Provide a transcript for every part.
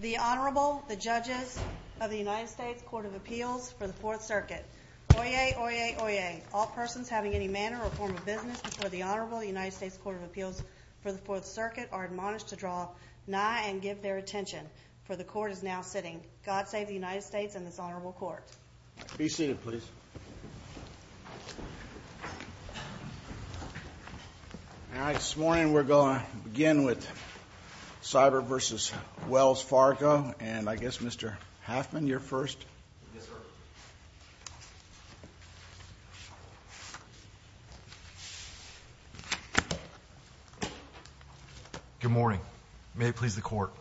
The Honorable, the Judges of the United States Court of Appeals for the Fourth Circuit. Oyez! Oyez! Oyez! All persons having any manner or form of business before the Honorable United States Court of Appeals for the Fourth Circuit are admonished to draw nigh and give their attention, for the Court is now sitting. God save the United States and this Honorable Court. Be seated, please. All right, this morning we're going to begin with Sibert v. Wells Fargo, and I guess Mr. Halfman, you're first. Yes, sir. Good morning. May it please the Court.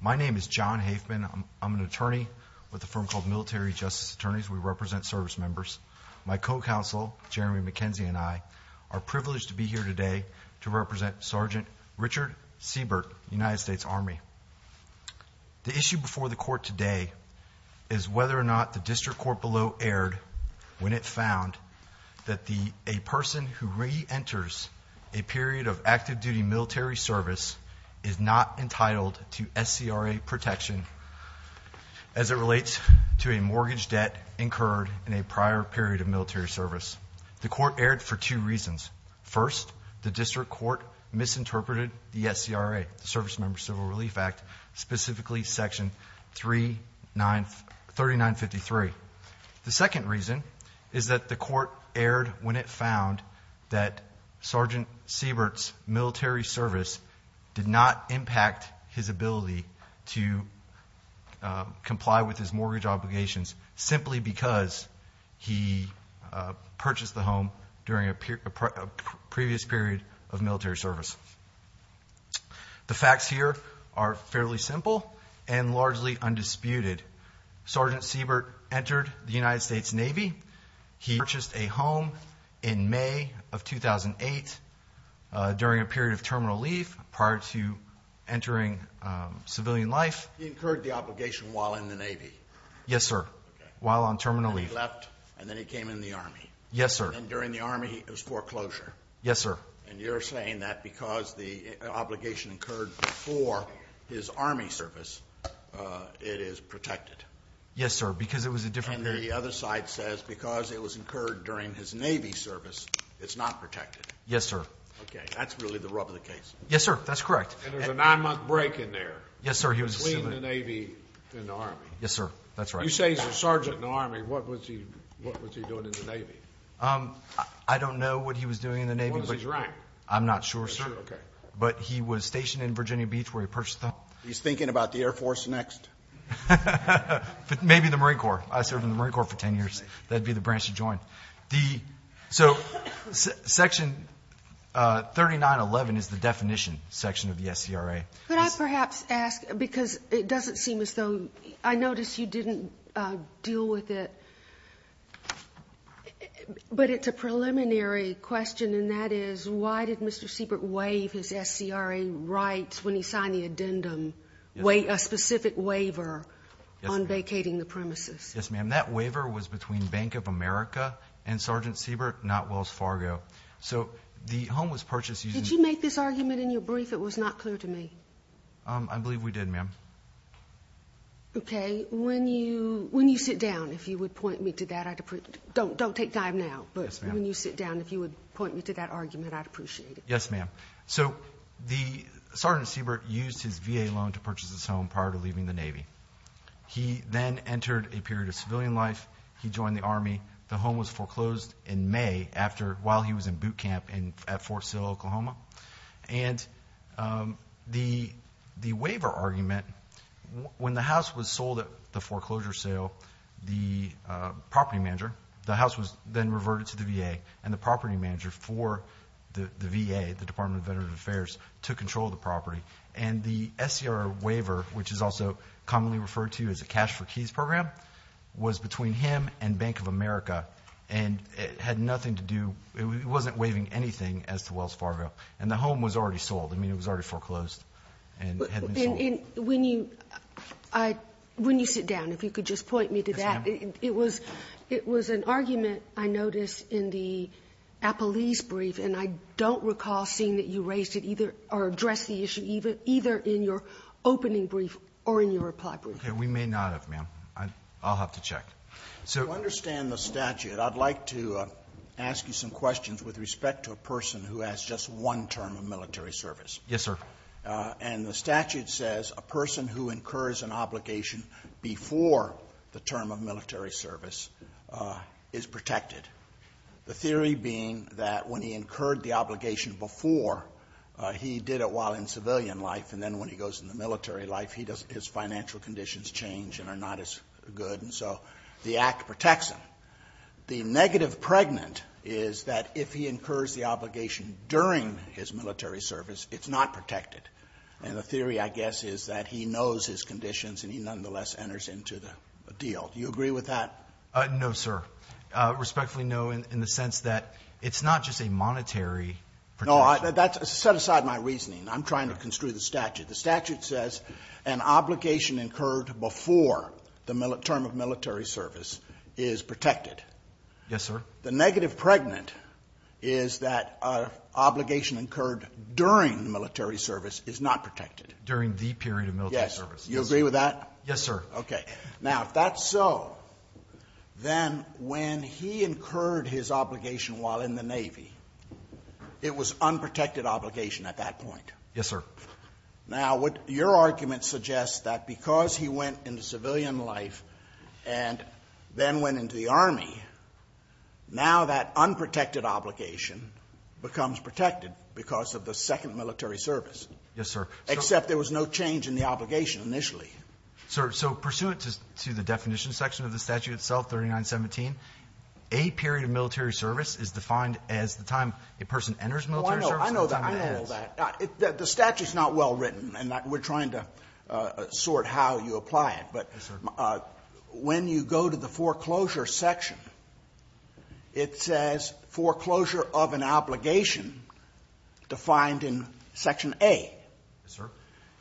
My name is John Halfman. I'm an attorney with a firm called Military Justice Attorneys. We represent service members. My co-counsel, Jeremy McKenzie, and I are privileged to be here today to represent Sergeant Richard Sibert, United States Army. The issue before the Court today is whether or not the District Court below erred when it found that a person who re-enters a period of active duty military service is not entitled to SCRA protection as it relates to a mortgage debt incurred in a prior period of military service. The Court erred for two reasons. First, the District Court misinterpreted the SCRA, the Service Member Civil Relief Act, specifically Section 3953. The second reason is that the Court erred when it found that Sergeant Sibert's military service did not impact his ability to comply with his mortgage obligations simply because he purchased the home during a previous period of military service. The facts here are fairly simple and largely undisputed. Sergeant Sibert entered the United States Navy. He purchased a home in May of 2008 during a period of terminal leave prior to entering civilian life. He incurred the obligation while in the Navy? Yes, sir, while on terminal leave. And then he left and then he came in the Army? Yes, sir. And during the Army it was foreclosure? Yes, sir. And you're saying that because the obligation occurred before his Army service, it is protected? Yes, sir, because it was a different period. And the other side says because it was incurred during his Navy service, it's not protected? Yes, sir. Okay, that's really the rub of the case. Yes, sir, that's correct. And there's a nine-month break in there? Yes, sir. Between the Navy and the Army? Yes, sir, that's right. You say he's a Sergeant in the Army. What was he doing in the Navy? I don't know what he was doing in the Navy. I'm not sure, sir. Okay. But he was stationed in Virginia Beach where he purchased the home. He's thinking about the Air Force next? Maybe the Marine Corps. I served in the Marine Corps for 10 years. That would be the branch he joined. So Section 3911 is the definition section of the SCRA. Could I perhaps ask, because it doesn't seem as though I noticed you didn't deal with it, but it's a preliminary question, and that is why did Mr. Siebert waive his SCRA rights when he signed the addendum, a specific waiver on vacating the premises? Yes, ma'am. That waiver was between Bank of America and Sergeant Siebert, not Wells Fargo. So the home was purchased using the— Did you make this argument in your brief? It was not clear to me. I believe we did, ma'am. Okay. And when you sit down, if you would point me to that, I'd appreciate it. Don't take time now, but when you sit down, if you would point me to that argument, I'd appreciate it. Yes, ma'am. So Sergeant Siebert used his VA loan to purchase this home prior to leaving the Navy. He then entered a period of civilian life. He joined the Army. The home was foreclosed in May while he was in boot camp at Fort Sill, Oklahoma. And the waiver argument, when the house was sold at the foreclosure sale, the property manager, the house was then reverted to the VA and the property manager for the VA, the Department of Veterans Affairs, to control the property. And the SCRA waiver, which is also commonly referred to as a cash-for-keys program, was between him and Bank of America, and it had nothing to do— and the home was already sold. I mean, it was already foreclosed and had been sold. When you sit down, if you could just point me to that. Yes, ma'am. It was an argument, I noticed, in the Appalese brief, and I don't recall seeing that you raised it either—or addressed the issue either in your opening brief or in your reply brief. Okay. We may not have, ma'am. I'll have to check. To understand the statute, I'd like to ask you some questions with respect to a person who has just one term of military service. Yes, sir. And the statute says a person who incurs an obligation before the term of military service is protected, the theory being that when he incurred the obligation before, he did it while in civilian life, and then when he goes into military life, his financial conditions change and are not as good, and so the Act protects him. The negative pregnant is that if he incurs the obligation during his military service, it's not protected. And the theory, I guess, is that he knows his conditions and he nonetheless enters into the deal. Do you agree with that? No, sir. Respectfully, no, in the sense that it's not just a monetary protection. Set aside my reasoning. I'm trying to construe the statute. The statute says an obligation incurred before the term of military service is protected. Yes, sir. The negative pregnant is that an obligation incurred during military service is not protected. During the period of military service. Yes. You agree with that? Yes, sir. Okay. Now, if that's so, then when he incurred his obligation while in the Navy, it was unprotected obligation at that point. Yes, sir. Now, your argument suggests that because he went into civilian life and then went into the Army, now that unprotected obligation becomes protected because of the second military service. Yes, sir. Except there was no change in the obligation initially. Sir, so pursuant to the definition section of the statute itself, 3917, a period of military service is defined as the time a person enters military service and the time it ends. The statute is not well written, and we're trying to sort how you apply it. Yes, sir. But when you go to the foreclosure section, it says foreclosure of an obligation defined in section A. Yes, sir.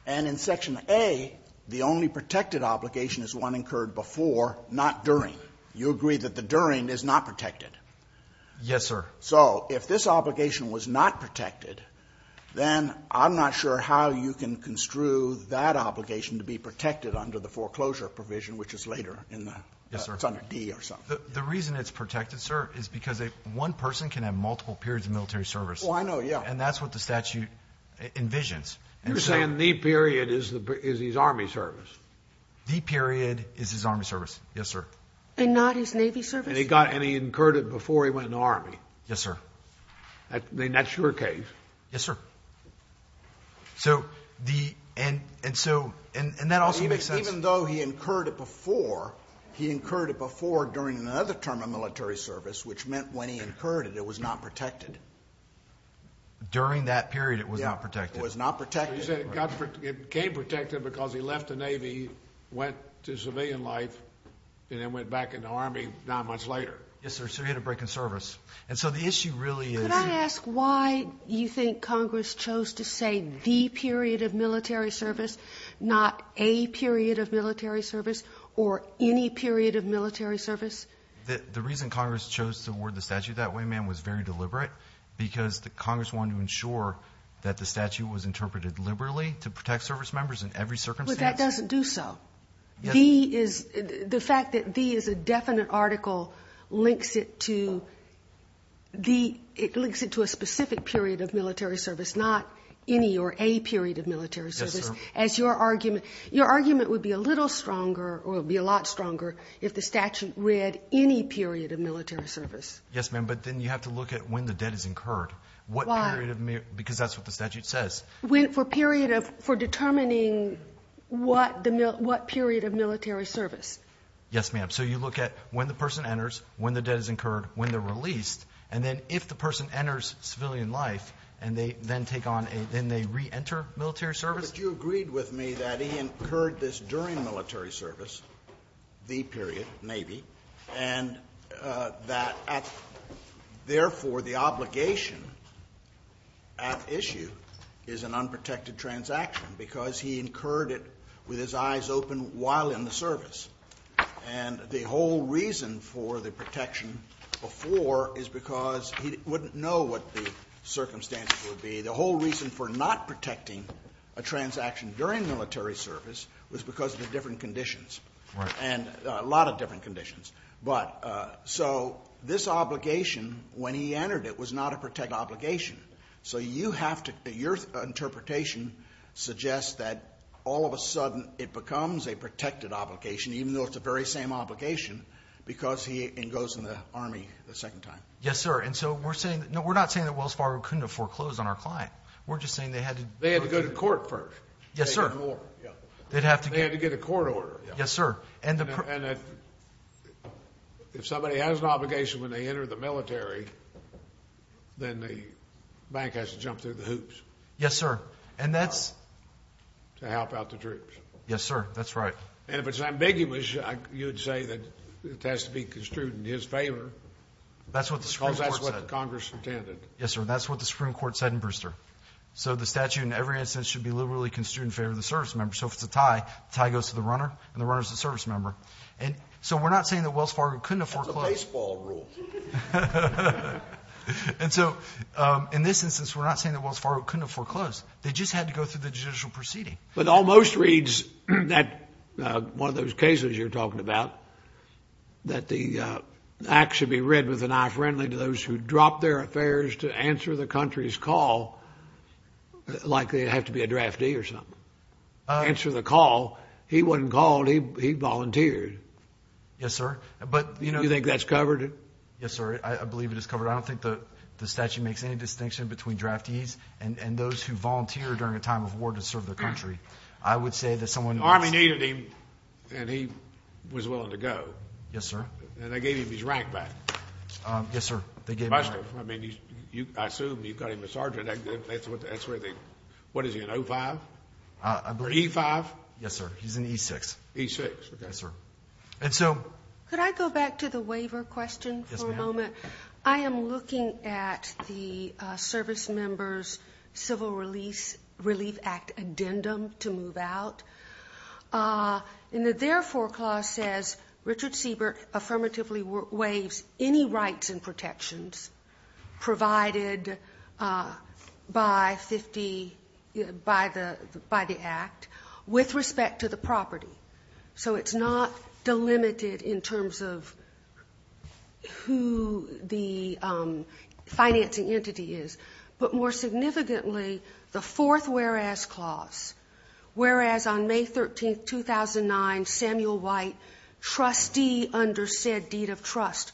And in section A, the only protected obligation is one incurred before, not during. You agree that the during is not protected? Yes, sir. So if this obligation was not protected, then I'm not sure how you can construe that obligation to be protected under the foreclosure provision, which is later in the, it's under D or something. Yes, sir. The reason it's protected, sir, is because one person can have multiple periods of military service. Oh, I know. Yeah. And that's what the statute envisions. You're saying the period is his Army service? The period is his Army service, yes, sir. And not his Navy service? And he incurred it before he went in the Army? Yes, sir. And that's your case? Yes, sir. And that also makes sense? Even though he incurred it before, he incurred it before during another term of military service, which meant when he incurred it, it was not protected. During that period, it was not protected? It was not protected. So you said it became protected because he left the Navy, went to civilian life, and then went back in the Army not much later? Yes, sir. So he had a break in service. And so the issue really is you. Could I ask why you think Congress chose to say the period of military service, not a period of military service or any period of military service? The reason Congress chose to award the statute that way, ma'am, was very deliberate because Congress wanted to ensure that the statute was interpreted liberally to protect service members in every circumstance. But that doesn't do so. The fact that the is a definite article links it to a specific period of military service, not any or a period of military service. Yes, sir. Your argument would be a little stronger or would be a lot stronger if the statute read any period of military service. Yes, ma'am. But then you have to look at when the debt is incurred. Why? Because that's what the statute says. For a period of, for determining what the, what period of military service. Yes, ma'am. So you look at when the person enters, when the debt is incurred, when they're released, and then if the person enters civilian life, and they then take on a, then they reenter military service? But you agreed with me that he incurred this during military service, the period, and that, therefore, the obligation at issue is an unprotected transaction because he incurred it with his eyes open while in the service. And the whole reason for the protection before is because he wouldn't know what the circumstances would be. The whole reason for not protecting a transaction during military service was because of the different conditions. Right. And a lot of different conditions. But so this obligation, when he entered it, was not a protected obligation. So you have to, your interpretation suggests that all of a sudden it becomes a protected obligation, even though it's the very same obligation, because he goes in the Army the second time. Yes, sir. And so we're saying, no, we're not saying that Wells Fargo couldn't have foreclosed on our client. We're just saying they had to. They had to go to court first. Yes, sir. They had to get a court order. Yes, sir. And if somebody has an obligation when they enter the military, then the bank has to jump through the hoops. Yes, sir. To help out the troops. Yes, sir. That's right. And if it's ambiguous, you'd say that it has to be construed in his favor. That's what the Supreme Court said. Because that's what Congress intended. Yes, sir. That's what the Supreme Court said in Brewster. So the statute in every instance should be liberally construed in favor of the service member. So if it's a tie, the tie goes to the runner and the runner is the service member. And so we're not saying that Wells Fargo couldn't have foreclosed. That's a baseball rule. And so in this instance, we're not saying that Wells Fargo couldn't have foreclosed. They just had to go through the judicial proceeding. But almost reads that one of those cases you're talking about, that the act should be read with an eye friendly to those who drop their affairs to answer the country's call like they have to be a draftee or something. Answer the call. He wasn't called. He volunteered. Yes, sir. But, you know. You think that's covered? Yes, sir. I believe it is covered. I don't think the statute makes any distinction between draftees and those who volunteer during a time of war to serve their country. I would say that someone. The Army needed him and he was willing to go. Yes, sir. And they gave him his rank back. Yes, sir. They gave him rank. I mean, I assume you got him a sergeant. That's where they. What is he, an O5? Or E5? Yes, sir. He's an E6. E6, okay. Yes, sir. And so. Could I go back to the waiver question for a moment? Yes, ma'am. I am looking at the service member's Civil Relief Act addendum to move out. And their foreclause says Richard Siebert affirmatively waives any rights and protections provided by the act with respect to the property. So it's not delimited in terms of who the financing entity is. But more significantly, the fourth whereas clause, whereas on May 13, 2009, Samuel White, trustee under said deed of trust,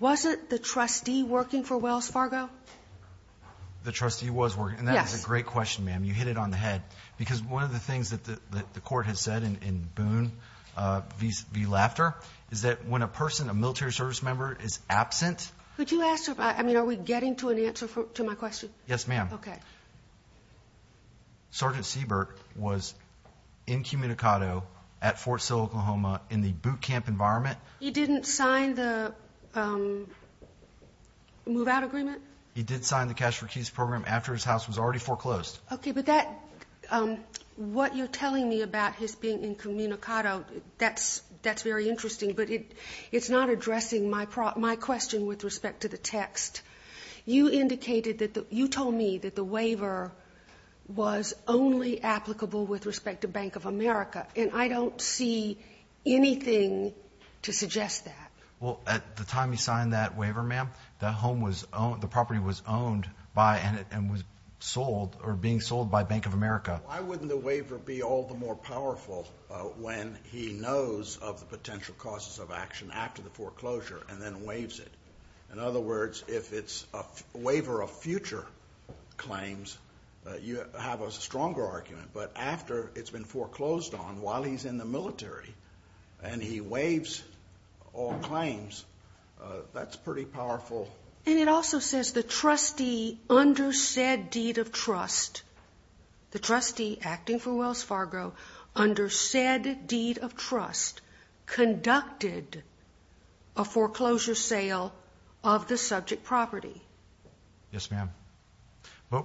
wasn't the trustee working for Wells Fargo? The trustee was working. Yes. And that is a great question, ma'am. You hit it on the head. Because one of the things that the court has said in Boone v. Laughter is that when a person, a military service member, is absent. Could you ask? I mean, are we getting to an answer to my question? Yes, ma'am. Okay. Sergeant Siebert was incommunicado at Fort Sill, Oklahoma, in the boot camp environment. He didn't sign the move-out agreement? He did sign the Cash for Keys program after his house was already foreclosed. Okay. But what you're telling me about his being incommunicado, that's very interesting. But it's not addressing my question with respect to the text. You indicated that the – you told me that the waiver was only applicable with respect to Bank of America. And I don't see anything to suggest that. Well, at the time you signed that waiver, ma'am, the home was owned – the property was owned by and was sold or being sold by Bank of America. Why wouldn't the waiver be all the more powerful when he knows of the potential causes of action after the foreclosure and then waives it? In other words, if it's a waiver of future claims, you have a stronger argument. But after it's been foreclosed on, while he's in the military and he waives all claims, that's pretty powerful. And it also says the trustee under said deed of trust, the trustee acting for Wells Fargo, under said deed of trust conducted a foreclosure sale of the subject property. Yes, ma'am. But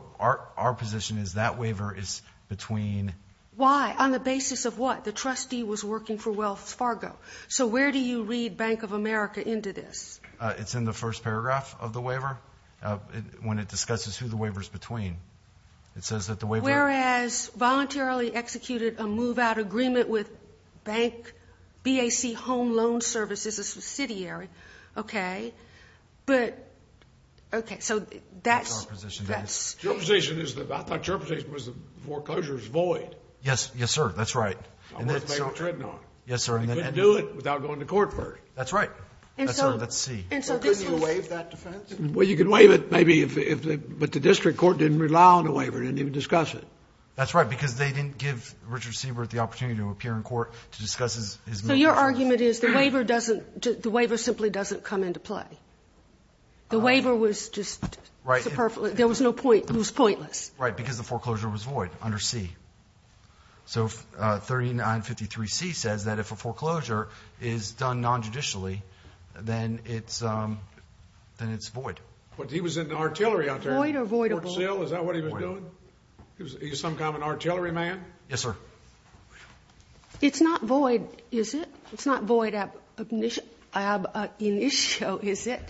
our position is that waiver is between – Why? On the basis of what? The trustee was working for Wells Fargo. So where do you read Bank of America into this? It's in the first paragraph of the waiver when it discusses who the waiver is between. It says that the waiver – Whereas voluntarily executed a move-out agreement with Bank BAC Home Loan Services, a subsidiary. Okay. But – okay. So that's – That's our position. Your position is – I thought your position was the foreclosure is void. Yes. Yes, sir. That's right. And that's – Worth making a treading on. Yes, sir. You couldn't do it without going to court for it. That's right. And so – Let's see. Couldn't you waive that defense? Well, you could waive it maybe if – but the district court didn't rely on the waiver. They didn't even discuss it. That's right. Because they didn't give Richard Siebert the opportunity to appear in court to discuss his – So your argument is the waiver doesn't – the waiver simply doesn't come into play. The waiver was just – Right. There was no point – it was pointless. Right, because the foreclosure was void under C. So 3953C says that if a foreclosure is done non-judicially, then it's void. But he was in artillery out there. Void or voidable? Fort Sill, is that what he was doing? Void. He was some kind of an artillery man? Yes, sir. It's not void, is it? It's not void ab initio, is it?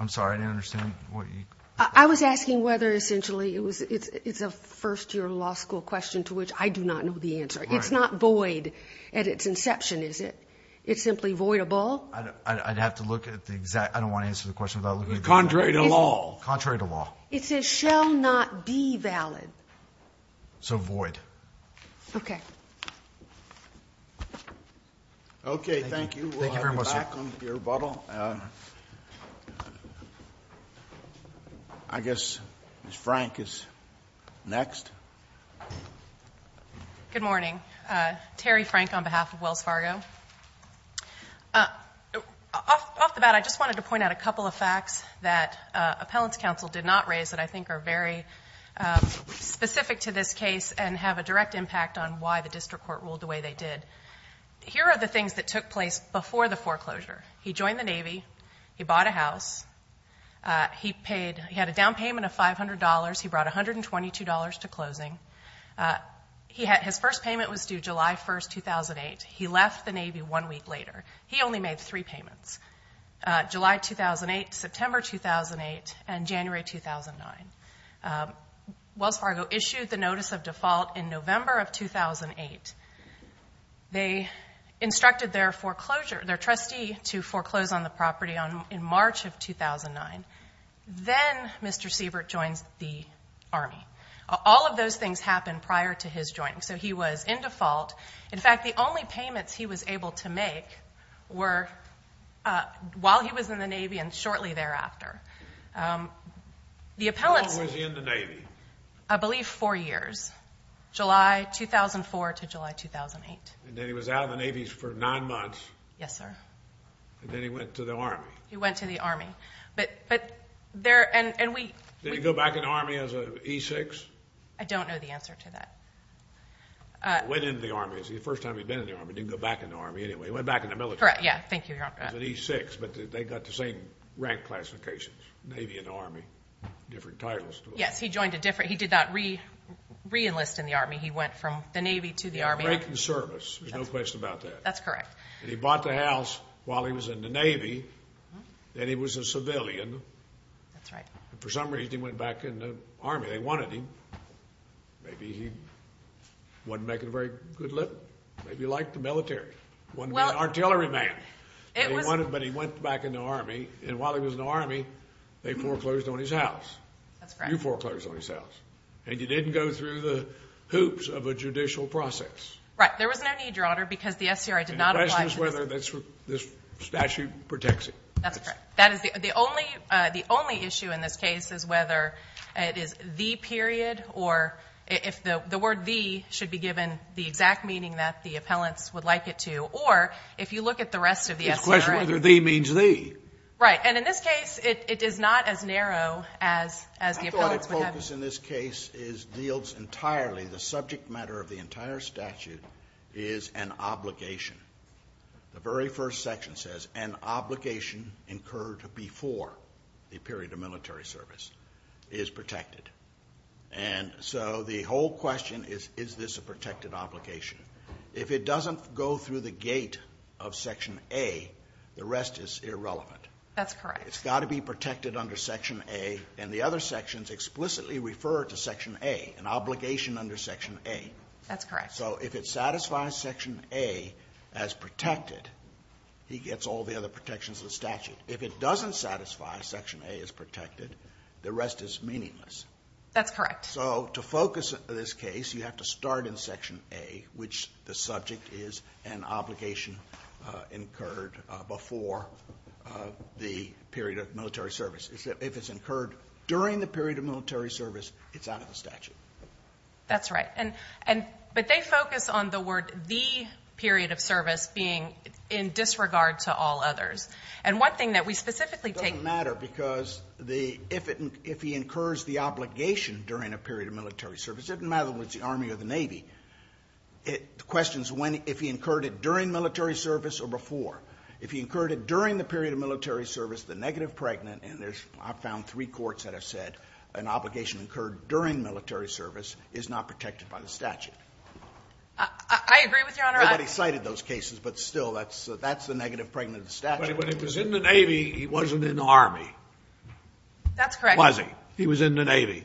I'm sorry. I didn't understand what you – I was asking whether essentially it's a first-year law school question to which I do not know the answer. Right. It's not void at its inception, is it? It's simply voidable? I'd have to look at the exact – I don't want to answer the question without looking at the answer. Contrary to law. Contrary to law. It says shall not be valid. So void. Okay. Okay, thank you. Thank you very much, sir. We'll have you back on your rebuttal. I guess Ms. Frank is next. Good morning. Terry Frank on behalf of Wells Fargo. Off the bat, I just wanted to point out a couple of facts that appellant's counsel did not raise that I think are very specific to this case and have a direct impact on why the district court ruled the way they did. Here are the things that took place before the foreclosure. He joined the Navy. He bought a house. He had a down payment of $500. He brought $122 to closing. His first payment was due July 1, 2008. He left the Navy one week later. He only made three payments. July 2008, September 2008, and January 2009. Wells Fargo issued the notice of default in November of 2008. They instructed their foreclosure, their trustee to foreclose on the property in March of 2009. Then Mr. Siebert joins the Army. All of those things happened prior to his joining. So he was in default. In fact, the only payments he was able to make were while he was in the Navy and shortly thereafter. How long was he in the Navy? I believe four years, July 2004 to July 2008. And then he was out of the Navy for nine months. Yes, sir. And then he went to the Army. He went to the Army. Did he go back in the Army as an E6? I don't know the answer to that. He went into the Army. It was the first time he'd been in the Army. He didn't go back in the Army anyway. He went back in the military. Correct, yeah. Thank you, Your Honor. He was an E6, but they got the same rank classifications, Navy and Army, different titles. Yes, he joined a different. He did not re-enlist in the Army. He went from the Navy to the Army. Great service. There's no question about that. That's correct. And he bought the house while he was in the Navy, and he was a civilian. That's right. And for some reason, he went back in the Army. They wanted him. Maybe he wasn't making a very good living. Maybe he liked the military. He wanted to be an artillery man, but he went back in the Army. And while he was in the Army, they foreclosed on his house. That's correct. You foreclosed on his house. And you didn't go through the hoops of a judicial process. Right. There was no need, Your Honor, because the SCRI did not apply for this. And the question is whether this statute protects it. That's correct. The only issue in this case is whether it is the period, or if the word the should be given the exact meaning that the appellants would like it to, or if you look at the rest of the SCRI. It's a question of whether the means the. Right. And in this case, it is not as narrow as the appellants would have it. I thought a focus in this case deals entirely, the subject matter of the entire statute is an obligation. The very first section says, an obligation incurred before the period of military service is protected. And so the whole question is, is this a protected obligation? If it doesn't go through the gate of Section A, the rest is irrelevant. That's correct. It's got to be protected under Section A, and the other sections explicitly refer to Section A, an obligation under Section A. That's correct. So if it satisfies Section A as protected, he gets all the other protections of the statute. If it doesn't satisfy Section A as protected, the rest is meaningless. That's correct. So to focus this case, you have to start in Section A, which the subject is an obligation incurred before the period of military service. If it's incurred during the period of military service, it's out of the statute. That's right. But they focus on the word, the period of service, being in disregard to all others. And one thing that we specifically take to heart. It doesn't matter because if he incurs the obligation during a period of military service, it doesn't matter whether it's the Army or the Navy, the question is if he incurred it during military service or before. If he incurred it during the period of military service, the negative pregnant, and I've found three courts that have said an obligation incurred during military service is not protected by the statute. I agree with Your Honor. Nobody cited those cases, but still, that's the negative pregnant of the statute. But when he was in the Navy, he wasn't in the Army. That's correct. Was he? He was in the Navy.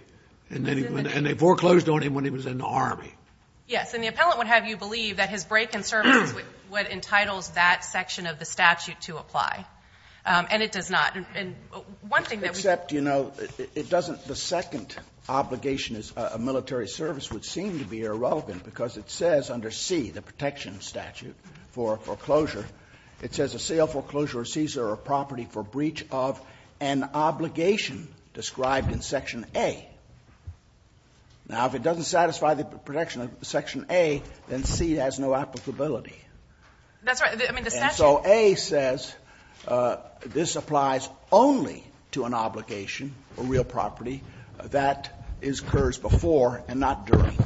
And they foreclosed on him when he was in the Army. Yes. And the appellant would have you believe that his break in service is what entitles that section of the statute to apply. And it does not. And one thing that we think. Except, you know, it doesn't the second obligation as a military service would seem to be irrelevant, because it says under C, the protection statute for foreclosure, it says a sale, foreclosure, or seizure of property for breach of an obligation described in section A. Now, if it doesn't satisfy the protection of section A, then C has no applicability. That's right. I mean, the statute. So A says this applies only to an obligation, a real property, that is cursed before and not during.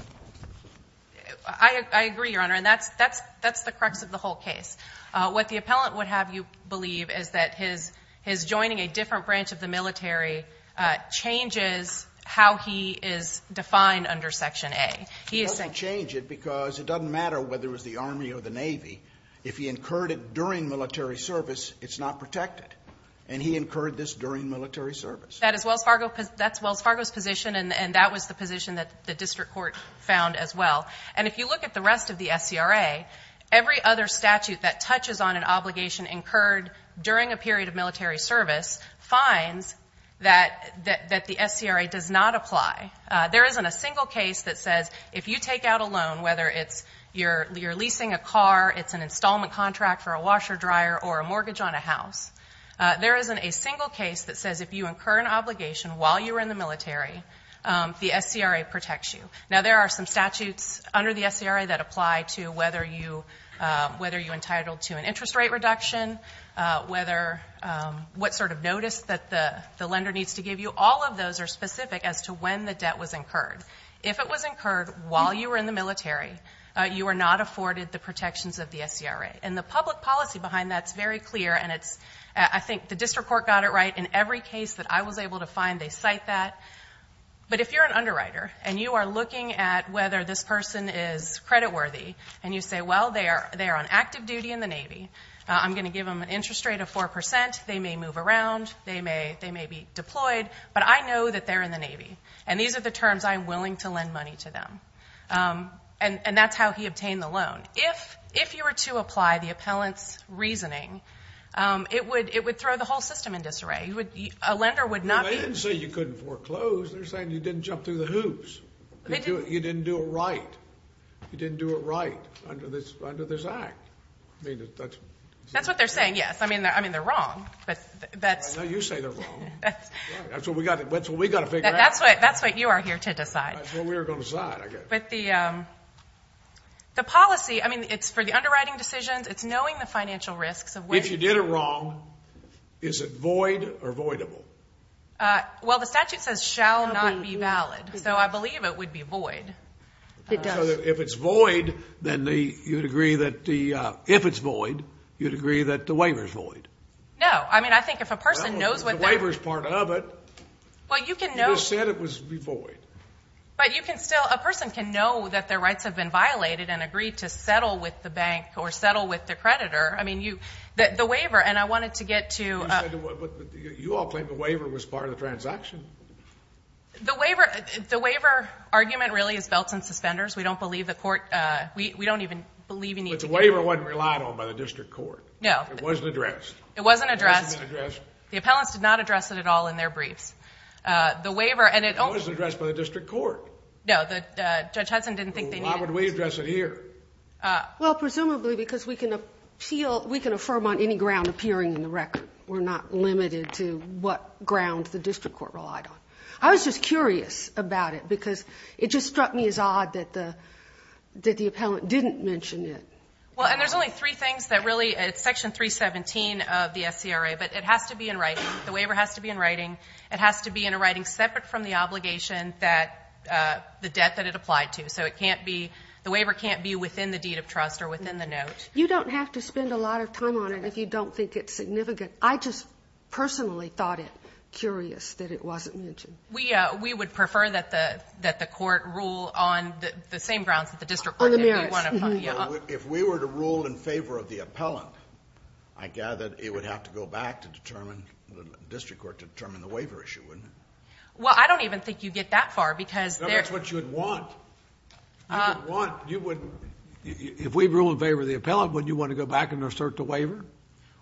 I agree, Your Honor. And that's the crux of the whole case. What the appellant would have you believe is that his joining a different branch of the military changes how he is defined under section A. He is saying. It doesn't change it, because it doesn't matter whether it was the Army or the Navy. If he incurred it during military service, it's not protected. And he incurred this during military service. That is Wells Fargo. That's Wells Fargo's position, and that was the position that the district court found as well. And if you look at the rest of the SCRA, every other statute that touches on an obligation incurred during a period of military service finds that the SCRA does not apply. There isn't a single case that says, if you take out a loan, whether it's you're installment contract, or a washer dryer, or a mortgage on a house, there isn't a single case that says, if you incur an obligation while you were in the military, the SCRA protects you. Now, there are some statutes under the SCRA that apply to whether you entitled to an interest rate reduction, what sort of notice that the lender needs to give you. All of those are specific as to when the debt was incurred. If it was incurred while you were in the military, you were not afforded the SCRA. And the public policy behind that's very clear, and I think the district court got it right. In every case that I was able to find, they cite that. But if you're an underwriter, and you are looking at whether this person is creditworthy, and you say, well, they are on active duty in the Navy. I'm going to give them an interest rate of 4%. They may move around. They may be deployed. But I know that they're in the Navy. And these are the terms I'm willing to lend money to them. And that's how he obtained the loan. If you were to apply the appellant's reasoning, it would throw the whole system in disarray. A lender would not be... They didn't say you couldn't foreclose. They're saying you didn't jump through the hoops. You didn't do it right. You didn't do it right under this act. I mean, that's... That's what they're saying, yes. I mean, they're wrong. But that's... I know you say they're wrong. That's what we got to figure out. That's what you are here to decide. That's what we are going to decide, I guess. But the policy, I mean, it's for the underwriting decisions. It's knowing the financial risks. If you did it wrong, is it void or voidable? Well, the statute says shall not be valid. So I believe it would be void. It does. So if it's void, then you'd agree that the... If it's void, you'd agree that the waiver is void. No. I mean, I think if a person knows what... The waiver is part of it. Well, you can know... You just said it was void. But you can still... A person can know that their rights have been violated and agree to settle with the bank or settle with the creditor. I mean, you... The waiver, and I wanted to get to... But you all claim the waiver was part of the transaction. The waiver... The waiver argument really is belts and suspenders. We don't believe the court... We don't even believe you need to... But the waiver wasn't relied on by the district court. No. It wasn't addressed. It wasn't addressed. It wasn't addressed. The appellants did not address it at all in their briefs. The waiver... It was addressed by the district court. No, Judge Hudson didn't think they needed... Why would we address it here? Well, presumably because we can appeal... We can affirm on any ground appearing in the record. We're not limited to what ground the district court relied on. I was just curious about it because it just struck me as odd that the appellant didn't mention it. Well, and there's only three things that really... It's Section 317 of the SCRA, but it has to be in writing. The waiver has to be in writing. It has to be in a writing separate from the obligation that the debt that it applied to. So it can't be... The waiver can't be within the deed of trust or within the note. You don't have to spend a lot of time on it if you don't think it's significant. I just personally thought it curious that it wasn't mentioned. We would prefer that the court rule on the same grounds that the district court did. On the merits. If we were to rule in favor of the appellant, I gather it would have to go back to determine... Well, I don't even think you get that far because... That's what you would want. You would... If we rule in favor of the appellant, wouldn't you want to go back and assert the waiver?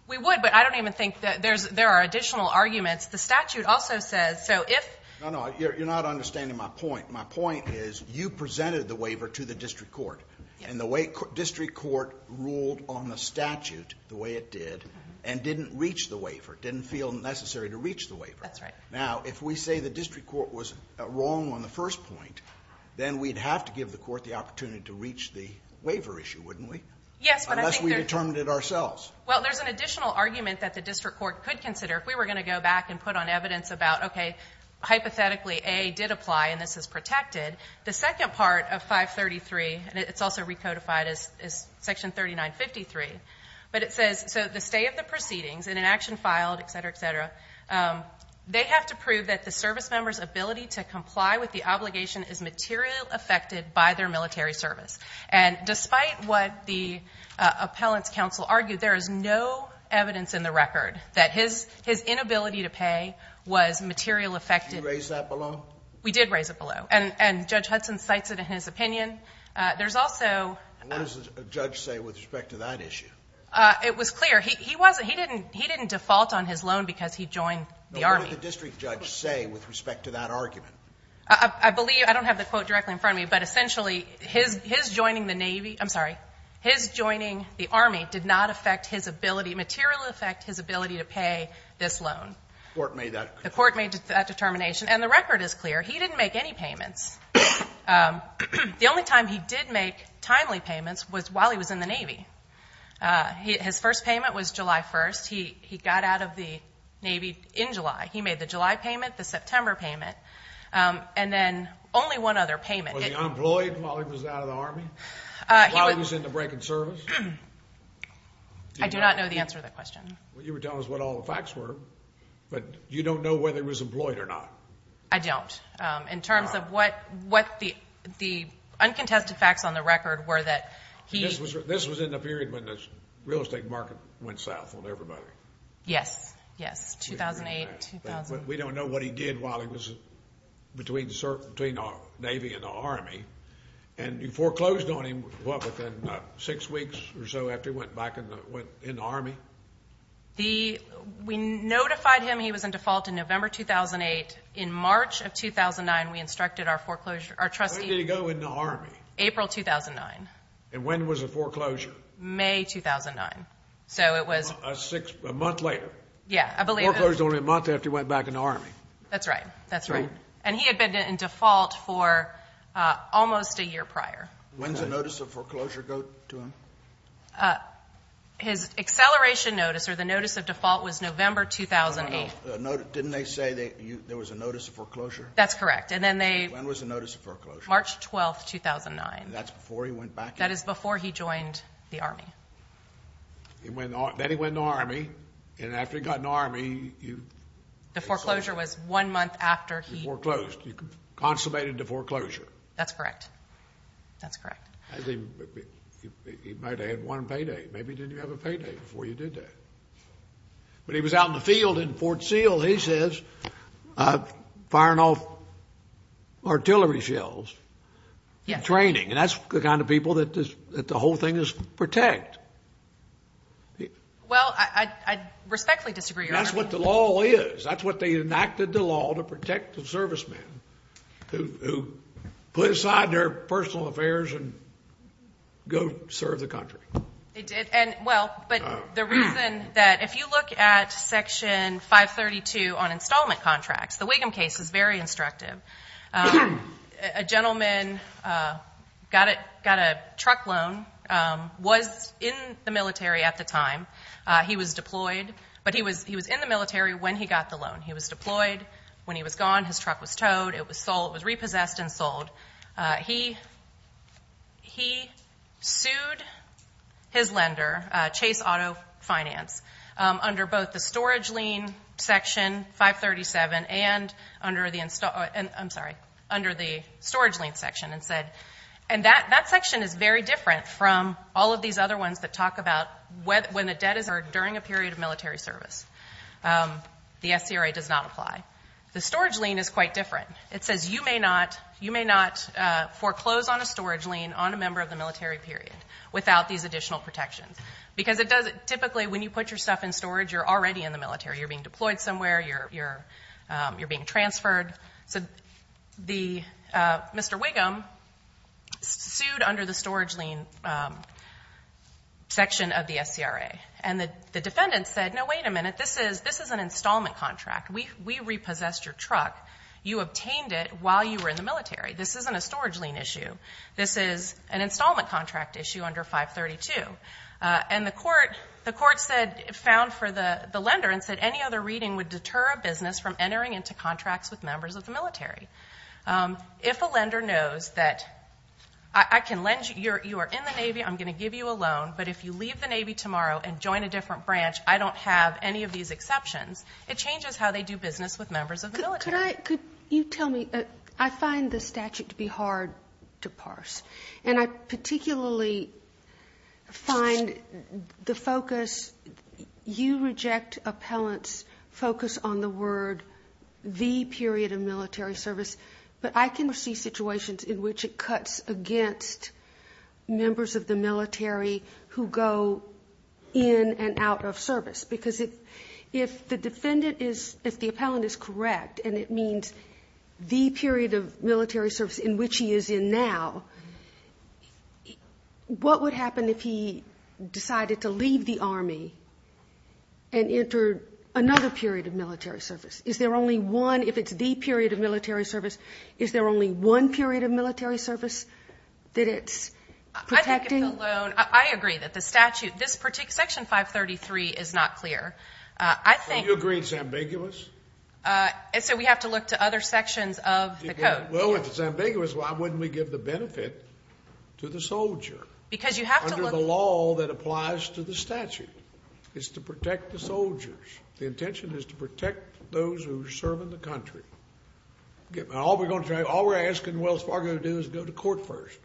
We would, but I don't even think... There are additional arguments. The statute also says, so if... No, no, you're not understanding my point. My point is you presented the waiver to the district court, and the way district court ruled on the statute, the way it did, and didn't reach the waiver, didn't feel necessary to reach the waiver. Now, if we say the district court was wrong on the first point, then we'd have to give the court the opportunity to reach the waiver issue, wouldn't we? Unless we determined it ourselves. Well, there's an additional argument that the district court could consider if we were going to go back and put on evidence about, okay, hypothetically, A did apply and this is protected. The second part of 533, and it's also recodified as Section 3953, but it says, so the stay of the proceedings, and an action filed, etc., etc., they have to prove that the service member's ability to comply with the obligation is material affected by their military service. And despite what the appellant's counsel argued, there is no evidence in the record that his inability to pay was material affected. Did you raise that below? We did raise it below. And Judge Hudson cites it in his opinion. There's also... What does the judge say with respect to that issue? It was clear. He didn't default on his loan because he joined the Army. But what did the district judge say with respect to that argument? I believe... I don't have the quote directly in front of me, but essentially, his joining the Navy... I'm sorry. His joining the Army did not affect his ability... material affect his ability to pay this loan. The court made that... The court made that determination. And the record is clear. He didn't make any payments. The only time he did make timely payments was while he was in the Navy. His first payment was July 1st. He got out of the Navy in July. He made the July payment, the September payment, and then only one other payment. Was he unemployed while he was out of the Army? While he was in the break in service? I do not know the answer to that question. You were telling us what all the facts were, but you don't know whether he was employed or not. I don't. In terms of what the uncontested facts on the record were that he... This was in the period when the real estate market went south on everybody. Yes. Yes, 2008, 2000. We don't know what he did while he was between the Navy and the Army. And you foreclosed on him, what, within six weeks or so after he went back in the Army? We notified him he was in default in November 2008. In March of 2009, we instructed our foreclosure... When did he go in the Army? April 2009. And when was the foreclosure? May 2009. So it was... A month later. Yeah, I believe it. Foreclosed only a month after he went back in the Army. That's right. That's right. And he had been in default for almost a year prior. When did the notice of foreclosure go to him? His acceleration notice, or the notice of default, was November 2008. Didn't they say there was a notice of foreclosure? That's correct. And then they... When was the notice of foreclosure? March 12, 2009. And that's before he went back in? That is before he joined the Army. Then he went in the Army, and after he got in the Army... The foreclosure was one month after he... He foreclosed. He consummated the foreclosure. That's correct. That's correct. He might have had one payday. Maybe he didn't have a payday before he did that. But he was out in the field in Fort Seal, he says, firing off artillery shells, training. And that's the kind of people that the whole thing is to protect. Well, I respectfully disagree, Your Honor. That's what the law is. That's what they enacted the law to protect the servicemen who put aside their personal affairs and go serve the country. They did. And, well, but the reason that... If you look at Section 532 on installment contracts, the Wiggum case is very instructive. A gentleman got a truck loan, was in the military at the time. He was deployed, but he was in the military when he got the loan. He was deployed. When he was gone, his truck was towed. It was sold. It was repossessed and sold. He sued his lender, Chase Auto Finance, under both the storage lien Section 537 and under the storage lien section. And that section is very different from all of these other ones that talk about when the debt is earned during a period of military service. The SCRA does not apply. The storage lien is quite different. It says you may not foreclose on a storage lien on a member of the military period without these additional protections. Because it does... Typically, when you put your stuff in storage, you're already in the military. You're being deployed somewhere. You're being transferred. So Mr. Wiggum sued under the storage lien section of the SCRA. And the defendant said, no, wait a minute. This is an installment contract. We repossessed your truck. You obtained it while you were in the military. This isn't a storage lien issue. This is an installment contract issue under 532. And the court found for the lender and said, any other reading would deter a business from entering into contracts with members of the military. If a lender knows that I can lend you... You are in the Navy. I'm going to give you a loan. But if you leave the Navy tomorrow and join a different branch, I don't have any of these exceptions. It changes how they do business with members of the military. Could you tell me... I find the statute to be hard to parse. And I particularly find the focus... You reject appellants' focus on the word the period of military service. But I can see situations in which it cuts against members of the military who go in and out of service. Because if the defendant is... And it means the period of military service in which he is in now, what would happen if he decided to leave the Army and enter another period of military service? Is there only one... If it's the period of military service, is there only one period of military service that it's protecting? I agree that the statute... Section 533 is not clear. You agree it's ambiguous? So we have to look to other sections of the code. Well, if it's ambiguous, why wouldn't we give the benefit to the soldier? Because you have to look... Under the law that applies to the statute. It's to protect the soldiers. The intention is to protect those who serve in the country. All we're asking Wells Fargo to do is go to court first.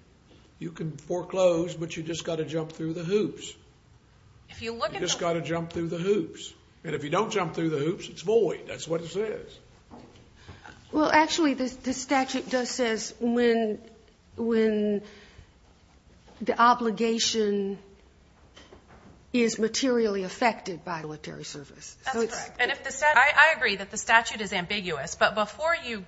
You can foreclose, but you just gotta jump through the hoops. You just gotta jump through the hoops. And if you don't jump through the hoops, it's void. That's what it says. Well, actually, the statute does say when the obligation is materially affected by military service. I agree that the statute is ambiguous, but before you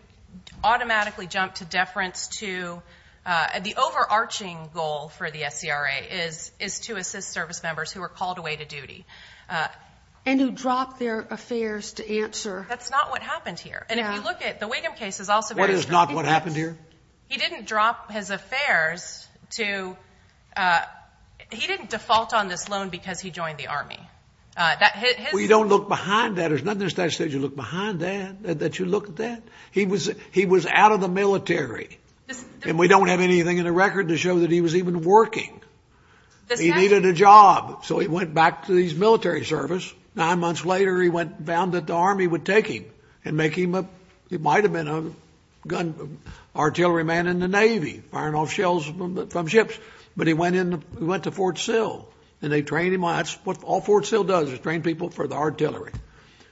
automatically jump to deference to... The overarching goal for the SCRA is to assist service members who are called away to duty. And who drop their affairs to answer. That's not what happened here. And if you look at the Wiggum case... What is not what happened here? He didn't drop his affairs to... He didn't default on this loan because he joined the Army. We don't look behind that. There's nothing in the statute that says you look behind that, that you look at that. He was out of the military. to show that he was even working. He needed a job. So he went back to his military service. Nine months later, he went and found that the Army would take him. It might have been an artillery man in the Navy firing off shells from ships. But he went to Fort Sill. And they trained him. All Fort Sill does is train people for the artillery.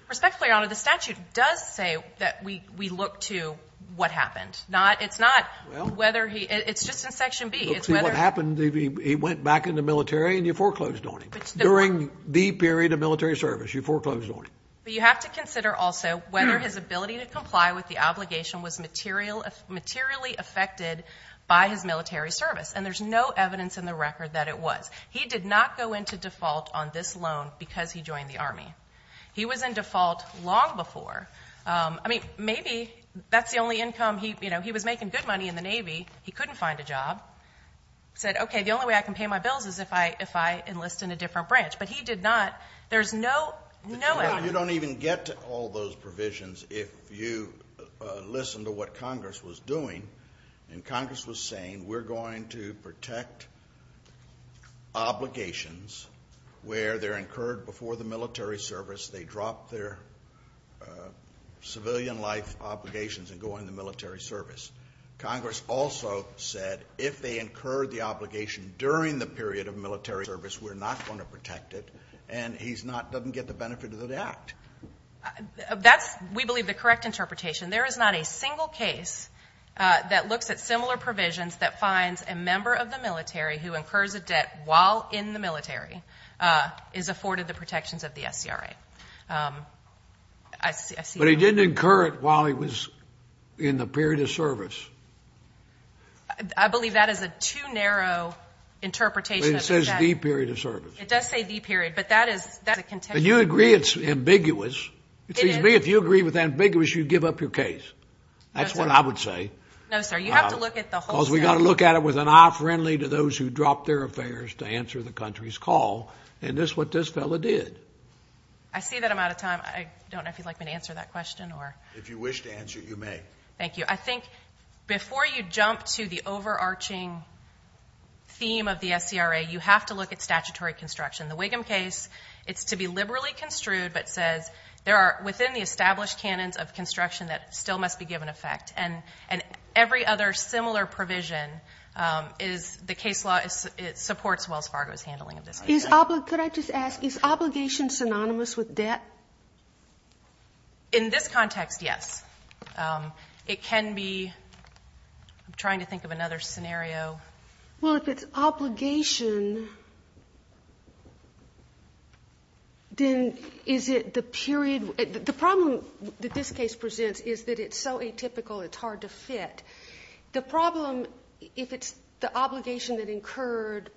Respectfully, Your Honor, the statute does say that we look to what happened. It's not whether he... It's just in Section B. He went back into the military and you foreclosed on him during the period of military service. You foreclosed on him. But you have to consider also whether his ability to comply with the obligation was materially affected by his military service. And there's no evidence in the record that it was. He did not go into default on this loan because he joined the Army. He was in default long before. Maybe that's the only income... He was making good money in the Navy. He couldn't find a job. He said, okay, the only way I can pay my bills is if I enlist in a different branch. But he did not. There's no evidence. You don't even get to all those provisions if you listen to what Congress was doing. And Congress was saying, we're going to protect obligations where they're incurred before the military service. They drop their civilian life obligations and go into military service. Congress also said if they incurred the obligation during the period of military service, we're not going to protect it. And he doesn't get the benefit of that act. That's, we believe, the correct interpretation. There is not a single case that looks at similar provisions that finds a member of the military who incurs a debt while in the military is afforded the protections of the SCRA. But he didn't incur it while he was in the period of service. I believe that is a too narrow interpretation. It says the period of service. It does say the period. But you agree it's ambiguous. It seems to me if you agree with ambiguous, you give up your case. That's what I would say. Because we've got to look at it with an eye friendly to those who dropped their affairs to answer the country's call. And that's what this fellow did. I see that I'm out of time. I don't know if you'd like me to answer that question. If you wish to answer, you may. Thank you. I think before you jump to the overarching theme of the SCRA, you have to look at statutory construction. The Wiggum case, it's to be liberally construed but says there are within the established canons of construction that still must be given effect. And every other similar provision is the case law, it supports Wells Fargo's handling of this. Could I just ask, is obligation synonymous with debt? In this context, yes. It can be... I'm trying to think of another scenario. Well, if it's obligation, then is it the period... The problem that this case presents is that it's so atypical it's hard to fit. The problem, if it's the obligation that incurred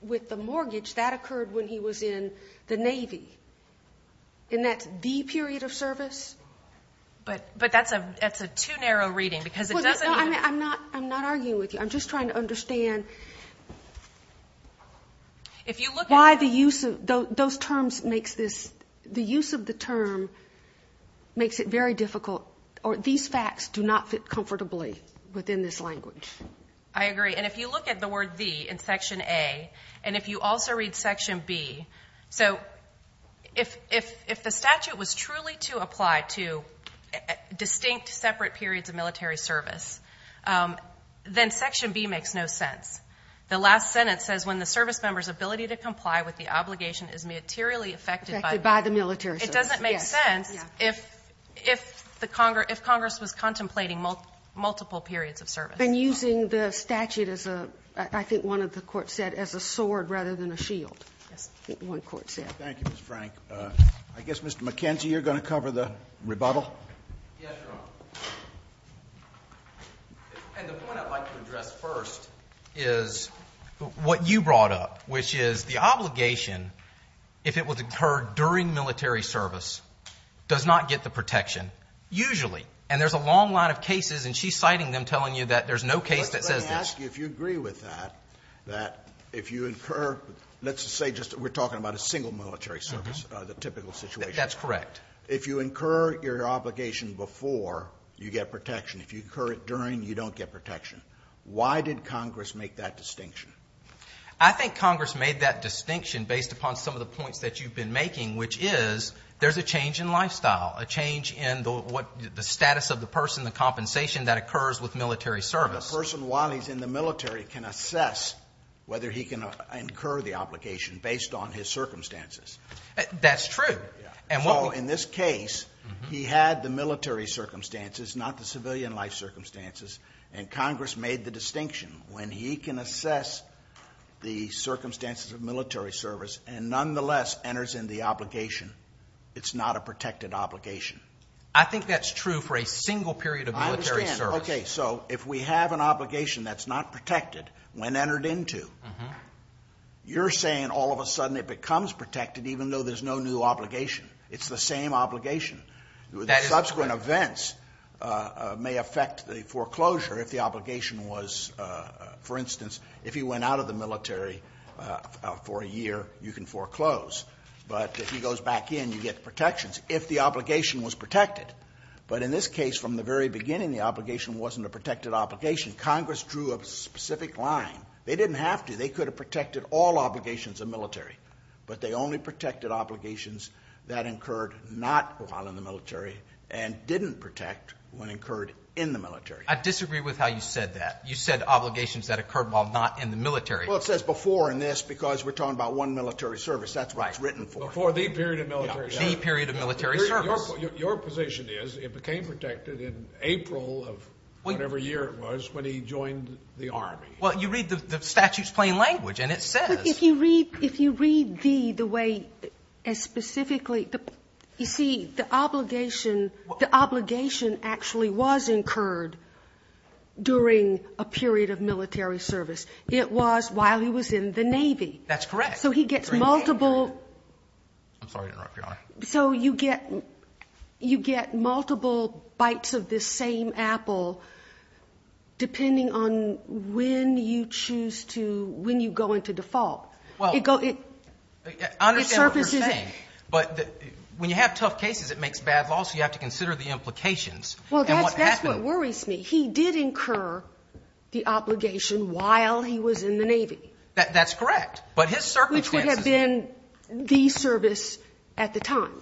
with the mortgage, that occurred when he was in the Navy. Isn't that THE period of service? But that's a too narrow reading because it doesn't... I'm not arguing with you. I'm just trying to understand why the use of... those terms makes this... the use of the term makes it very difficult. These facts do not fit comfortably within this language. I agree. And if you look at the word THE in Section A, and if you also read Section B, if the statute was truly to apply to distinct separate periods of military service, then Section B makes no sense. The last sentence says, when the service member's ability to comply with the obligation is materially affected by the military service. It doesn't make sense if Congress was contemplating multiple periods of service. I've been using the statute as a... I think one of the courts said, as a sword rather than a shield. Thank you, Ms. Frank. I guess, Mr. McKenzie, you're going to cover the rebuttal? Yes, Your Honor. And the point I'd like to address first is what you brought up, which is the obligation if it was incurred during military service does not get the protection, usually. And there's a long line of cases and she's citing them telling you that there's no case that says this. Let me ask you if you agree with that, that if you incur... We're talking about a single military service, the typical situation. That's correct. If you incur your obligation before you get protection, if you incur it during, you don't get protection. Why did Congress make that distinction? I think Congress made that distinction based upon some of the points that you've been making, which is there's a change in lifestyle, a change in the status of the person, the compensation that occurs with military service. The person, while he's in the military, can assess whether he can incur the obligation based on his circumstances. That's true. In this case, he had the military circumstances, not the civilian life circumstances, and Congress made the distinction when he can assess the circumstances of military service and nonetheless enters into the obligation. It's not a protected obligation. I think that's true for a single period of military service. If we have an obligation that's not protected when entered into, you're saying all of a sudden it becomes protected even though there's no new obligation. It's the same obligation. Subsequent events may affect the foreclosure if the obligation was, for instance, if he went out of the military for a year, you can foreclose. But if he goes back in, you get protections if the obligation was protected. But in this case, from the very beginning, the obligation wasn't a protected obligation. Congress drew a specific line. They didn't have to. They could have protected all obligations of military, but they only protected obligations that incurred not while in the military and didn't protect when incurred in the military. I disagree with how you said that. You said obligations that occurred while not in the military. Well, it says before in this because we're talking about one military service. That's what it's written for. Before the period of military service. The period of military service. Your position is it became protected in April of whatever year it was when he joined the Army. Well, you read the statute's plain language and it says. If you read the way as specifically, you see the obligation actually was incurred during a period of military service. It was while he was in the Navy. That's correct. I'm sorry to interrupt, Your Honor. So you get multiple bites of this same apple depending on when you choose to, when you go into default. I understand what you're saying. But when you have tough cases it makes bad laws so you have to consider the implications. Well, that's what worries me. He did incur the obligation while he was in the Navy. That's correct. But his circumstances. Which would have been the service at the time.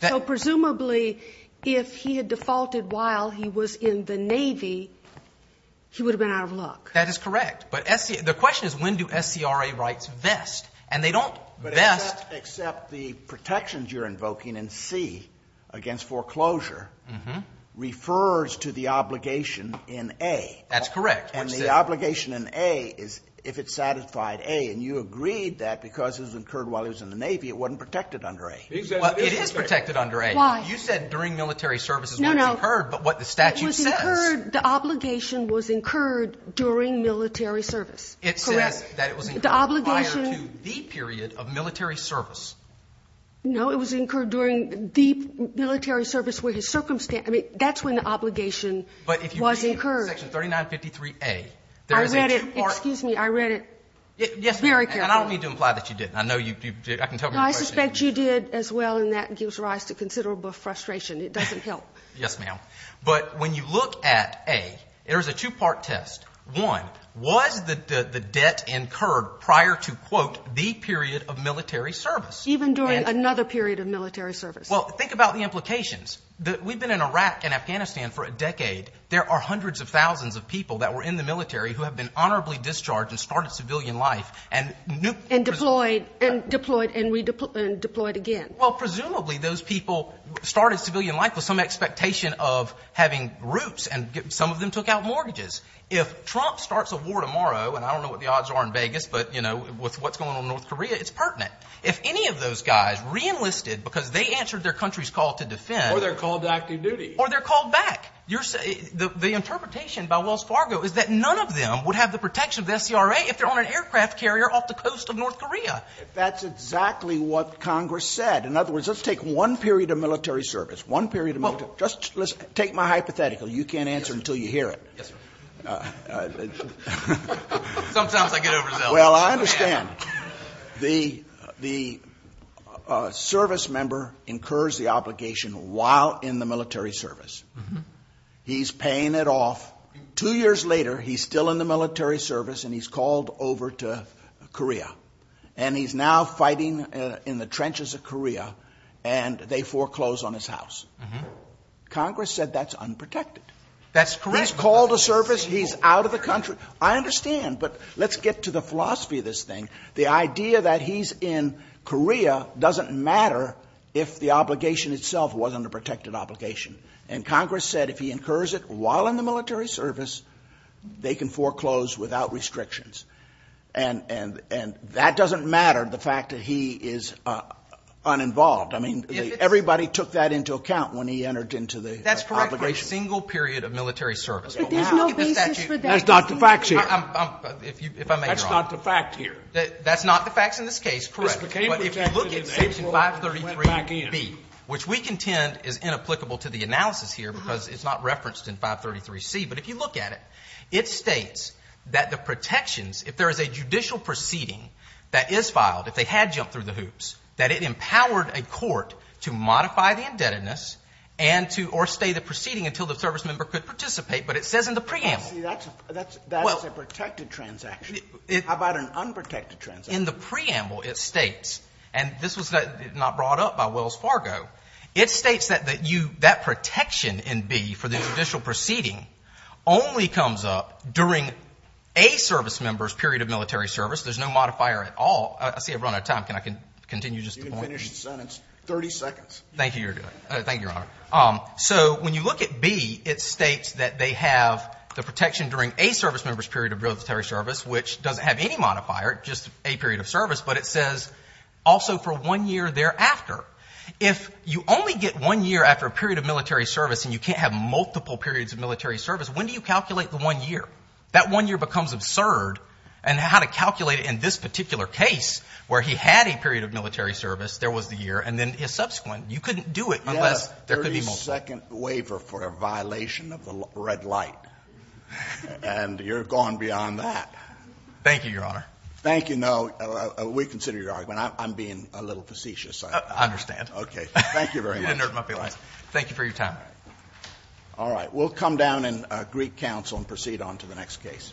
So presumably if he had defaulted while he was in the Navy he would have been out of luck. That is correct. But the question is when do SCRA rights vest? And they don't vest except the protections you're invoking in C against foreclosure refers to the obligation in A. That's correct. And the obligation in A is if it's satisfied A and you agreed that because it was incurred while he was in the Navy it wasn't protected under A. It is protected under A. Why? You said during military service it was incurred but what the statute says. It was incurred, the obligation was incurred during military service. It says that it was incurred prior to the period of military service. No, it was incurred during the military service where his circumstances. That's when the obligation was incurred. But if you read section 3953A there is a two part. Excuse me, I read it very carefully. And I don't need to imply that you did. I know you did. I can tell from your question. No, I suspect you did as well and that gives rise to considerable frustration. It doesn't help. Yes, ma'am. But when you look at A, there is a two part test. One, was the prior to quote the period of military service. Even during another period of military service. Well, think about the implications. We've been in Iraq and Afghanistan for a decade. There are hundreds of thousands of people that were in the military who have been honorably discharged and started civilian life and deployed and redeployed again. Well, presumably those people started civilian life with some expectation of having roots and some of them took out mortgages. If Trump starts a war tomorrow and I don't know what the odds are in Vegas, but with what's going on in North Korea, it's pertinent. If any of those guys reenlisted because they answered their country's call to defend. Or they're called to active duty. Or they're called back. The interpretation by Wells Fargo is that none of them would have the protection of the SCRA if they're on an aircraft carrier off the coast of North Korea. That's exactly what Congress said. In other words, let's take one period of military service. One period of military service. Take my hypothetical. You can't answer until you hear it. Yes, sir. Sometimes I get overzealous. Well, I understand. The service member incurs the obligation while in the military service. He's paying it off. Two years later he's still in the military service and he's called over to Korea. And he's now fighting in the trenches of Korea and they foreclose on his house. Congress said that's unprotected. He's called a service. He's out of the country. I understand. But let's get to the philosophy of this thing. The idea that he's in Korea doesn't matter if the obligation itself wasn't a protected obligation. And Congress said if he incurs it while in the military service, they can foreclose without restrictions. And that doesn't matter, the fact that he is uninvolved. I mean, everybody took that into account when he entered into the obligation. That's correct for a single period of military service. But there's no basis for that. That's not the facts here. That's not the facts here. That's not the facts in this case, correct. But if you look at Section 533B, which we contend is inapplicable to the analysis here because it's not referenced in 533C, but if you look at it, it states that the protections, if there is a judicial proceeding that is filed, if they had jumped through the hoops, that it was not brought up by Wells Fargo, it states that that protection in B for the judicial proceeding only comes up during a service member's period of military service. There's no modifier at all. I see I've run out of time. Can I continue just a point? Thank you, Your Honor. Thank you, Your Honor. I'm sorry. I'm sorry. So when you look at B, it states that they have the protection during a service member's period of military service, which doesn't have any modifier, just a period of service, but it says also for one year thereafter. If you only get one year after a period of military service and you can't have multiple periods of military service, when do you calculate the one year? That one year becomes absurd and how to calculate it in this particular case where he had a period of military service, there was the year, and then the year subsequent, you couldn't do it unless there could be multiple periods. Yes, a 30-second waiver for a violation of the red light. And you're gone beyond that. Thank you, Your Honor. Thank you. No, we consider your argument. I'm being a little facetious. I understand. Okay. Thank you very much. Thank you for your time. All right. We'll come down in Greek counsel and proceed on to the next case.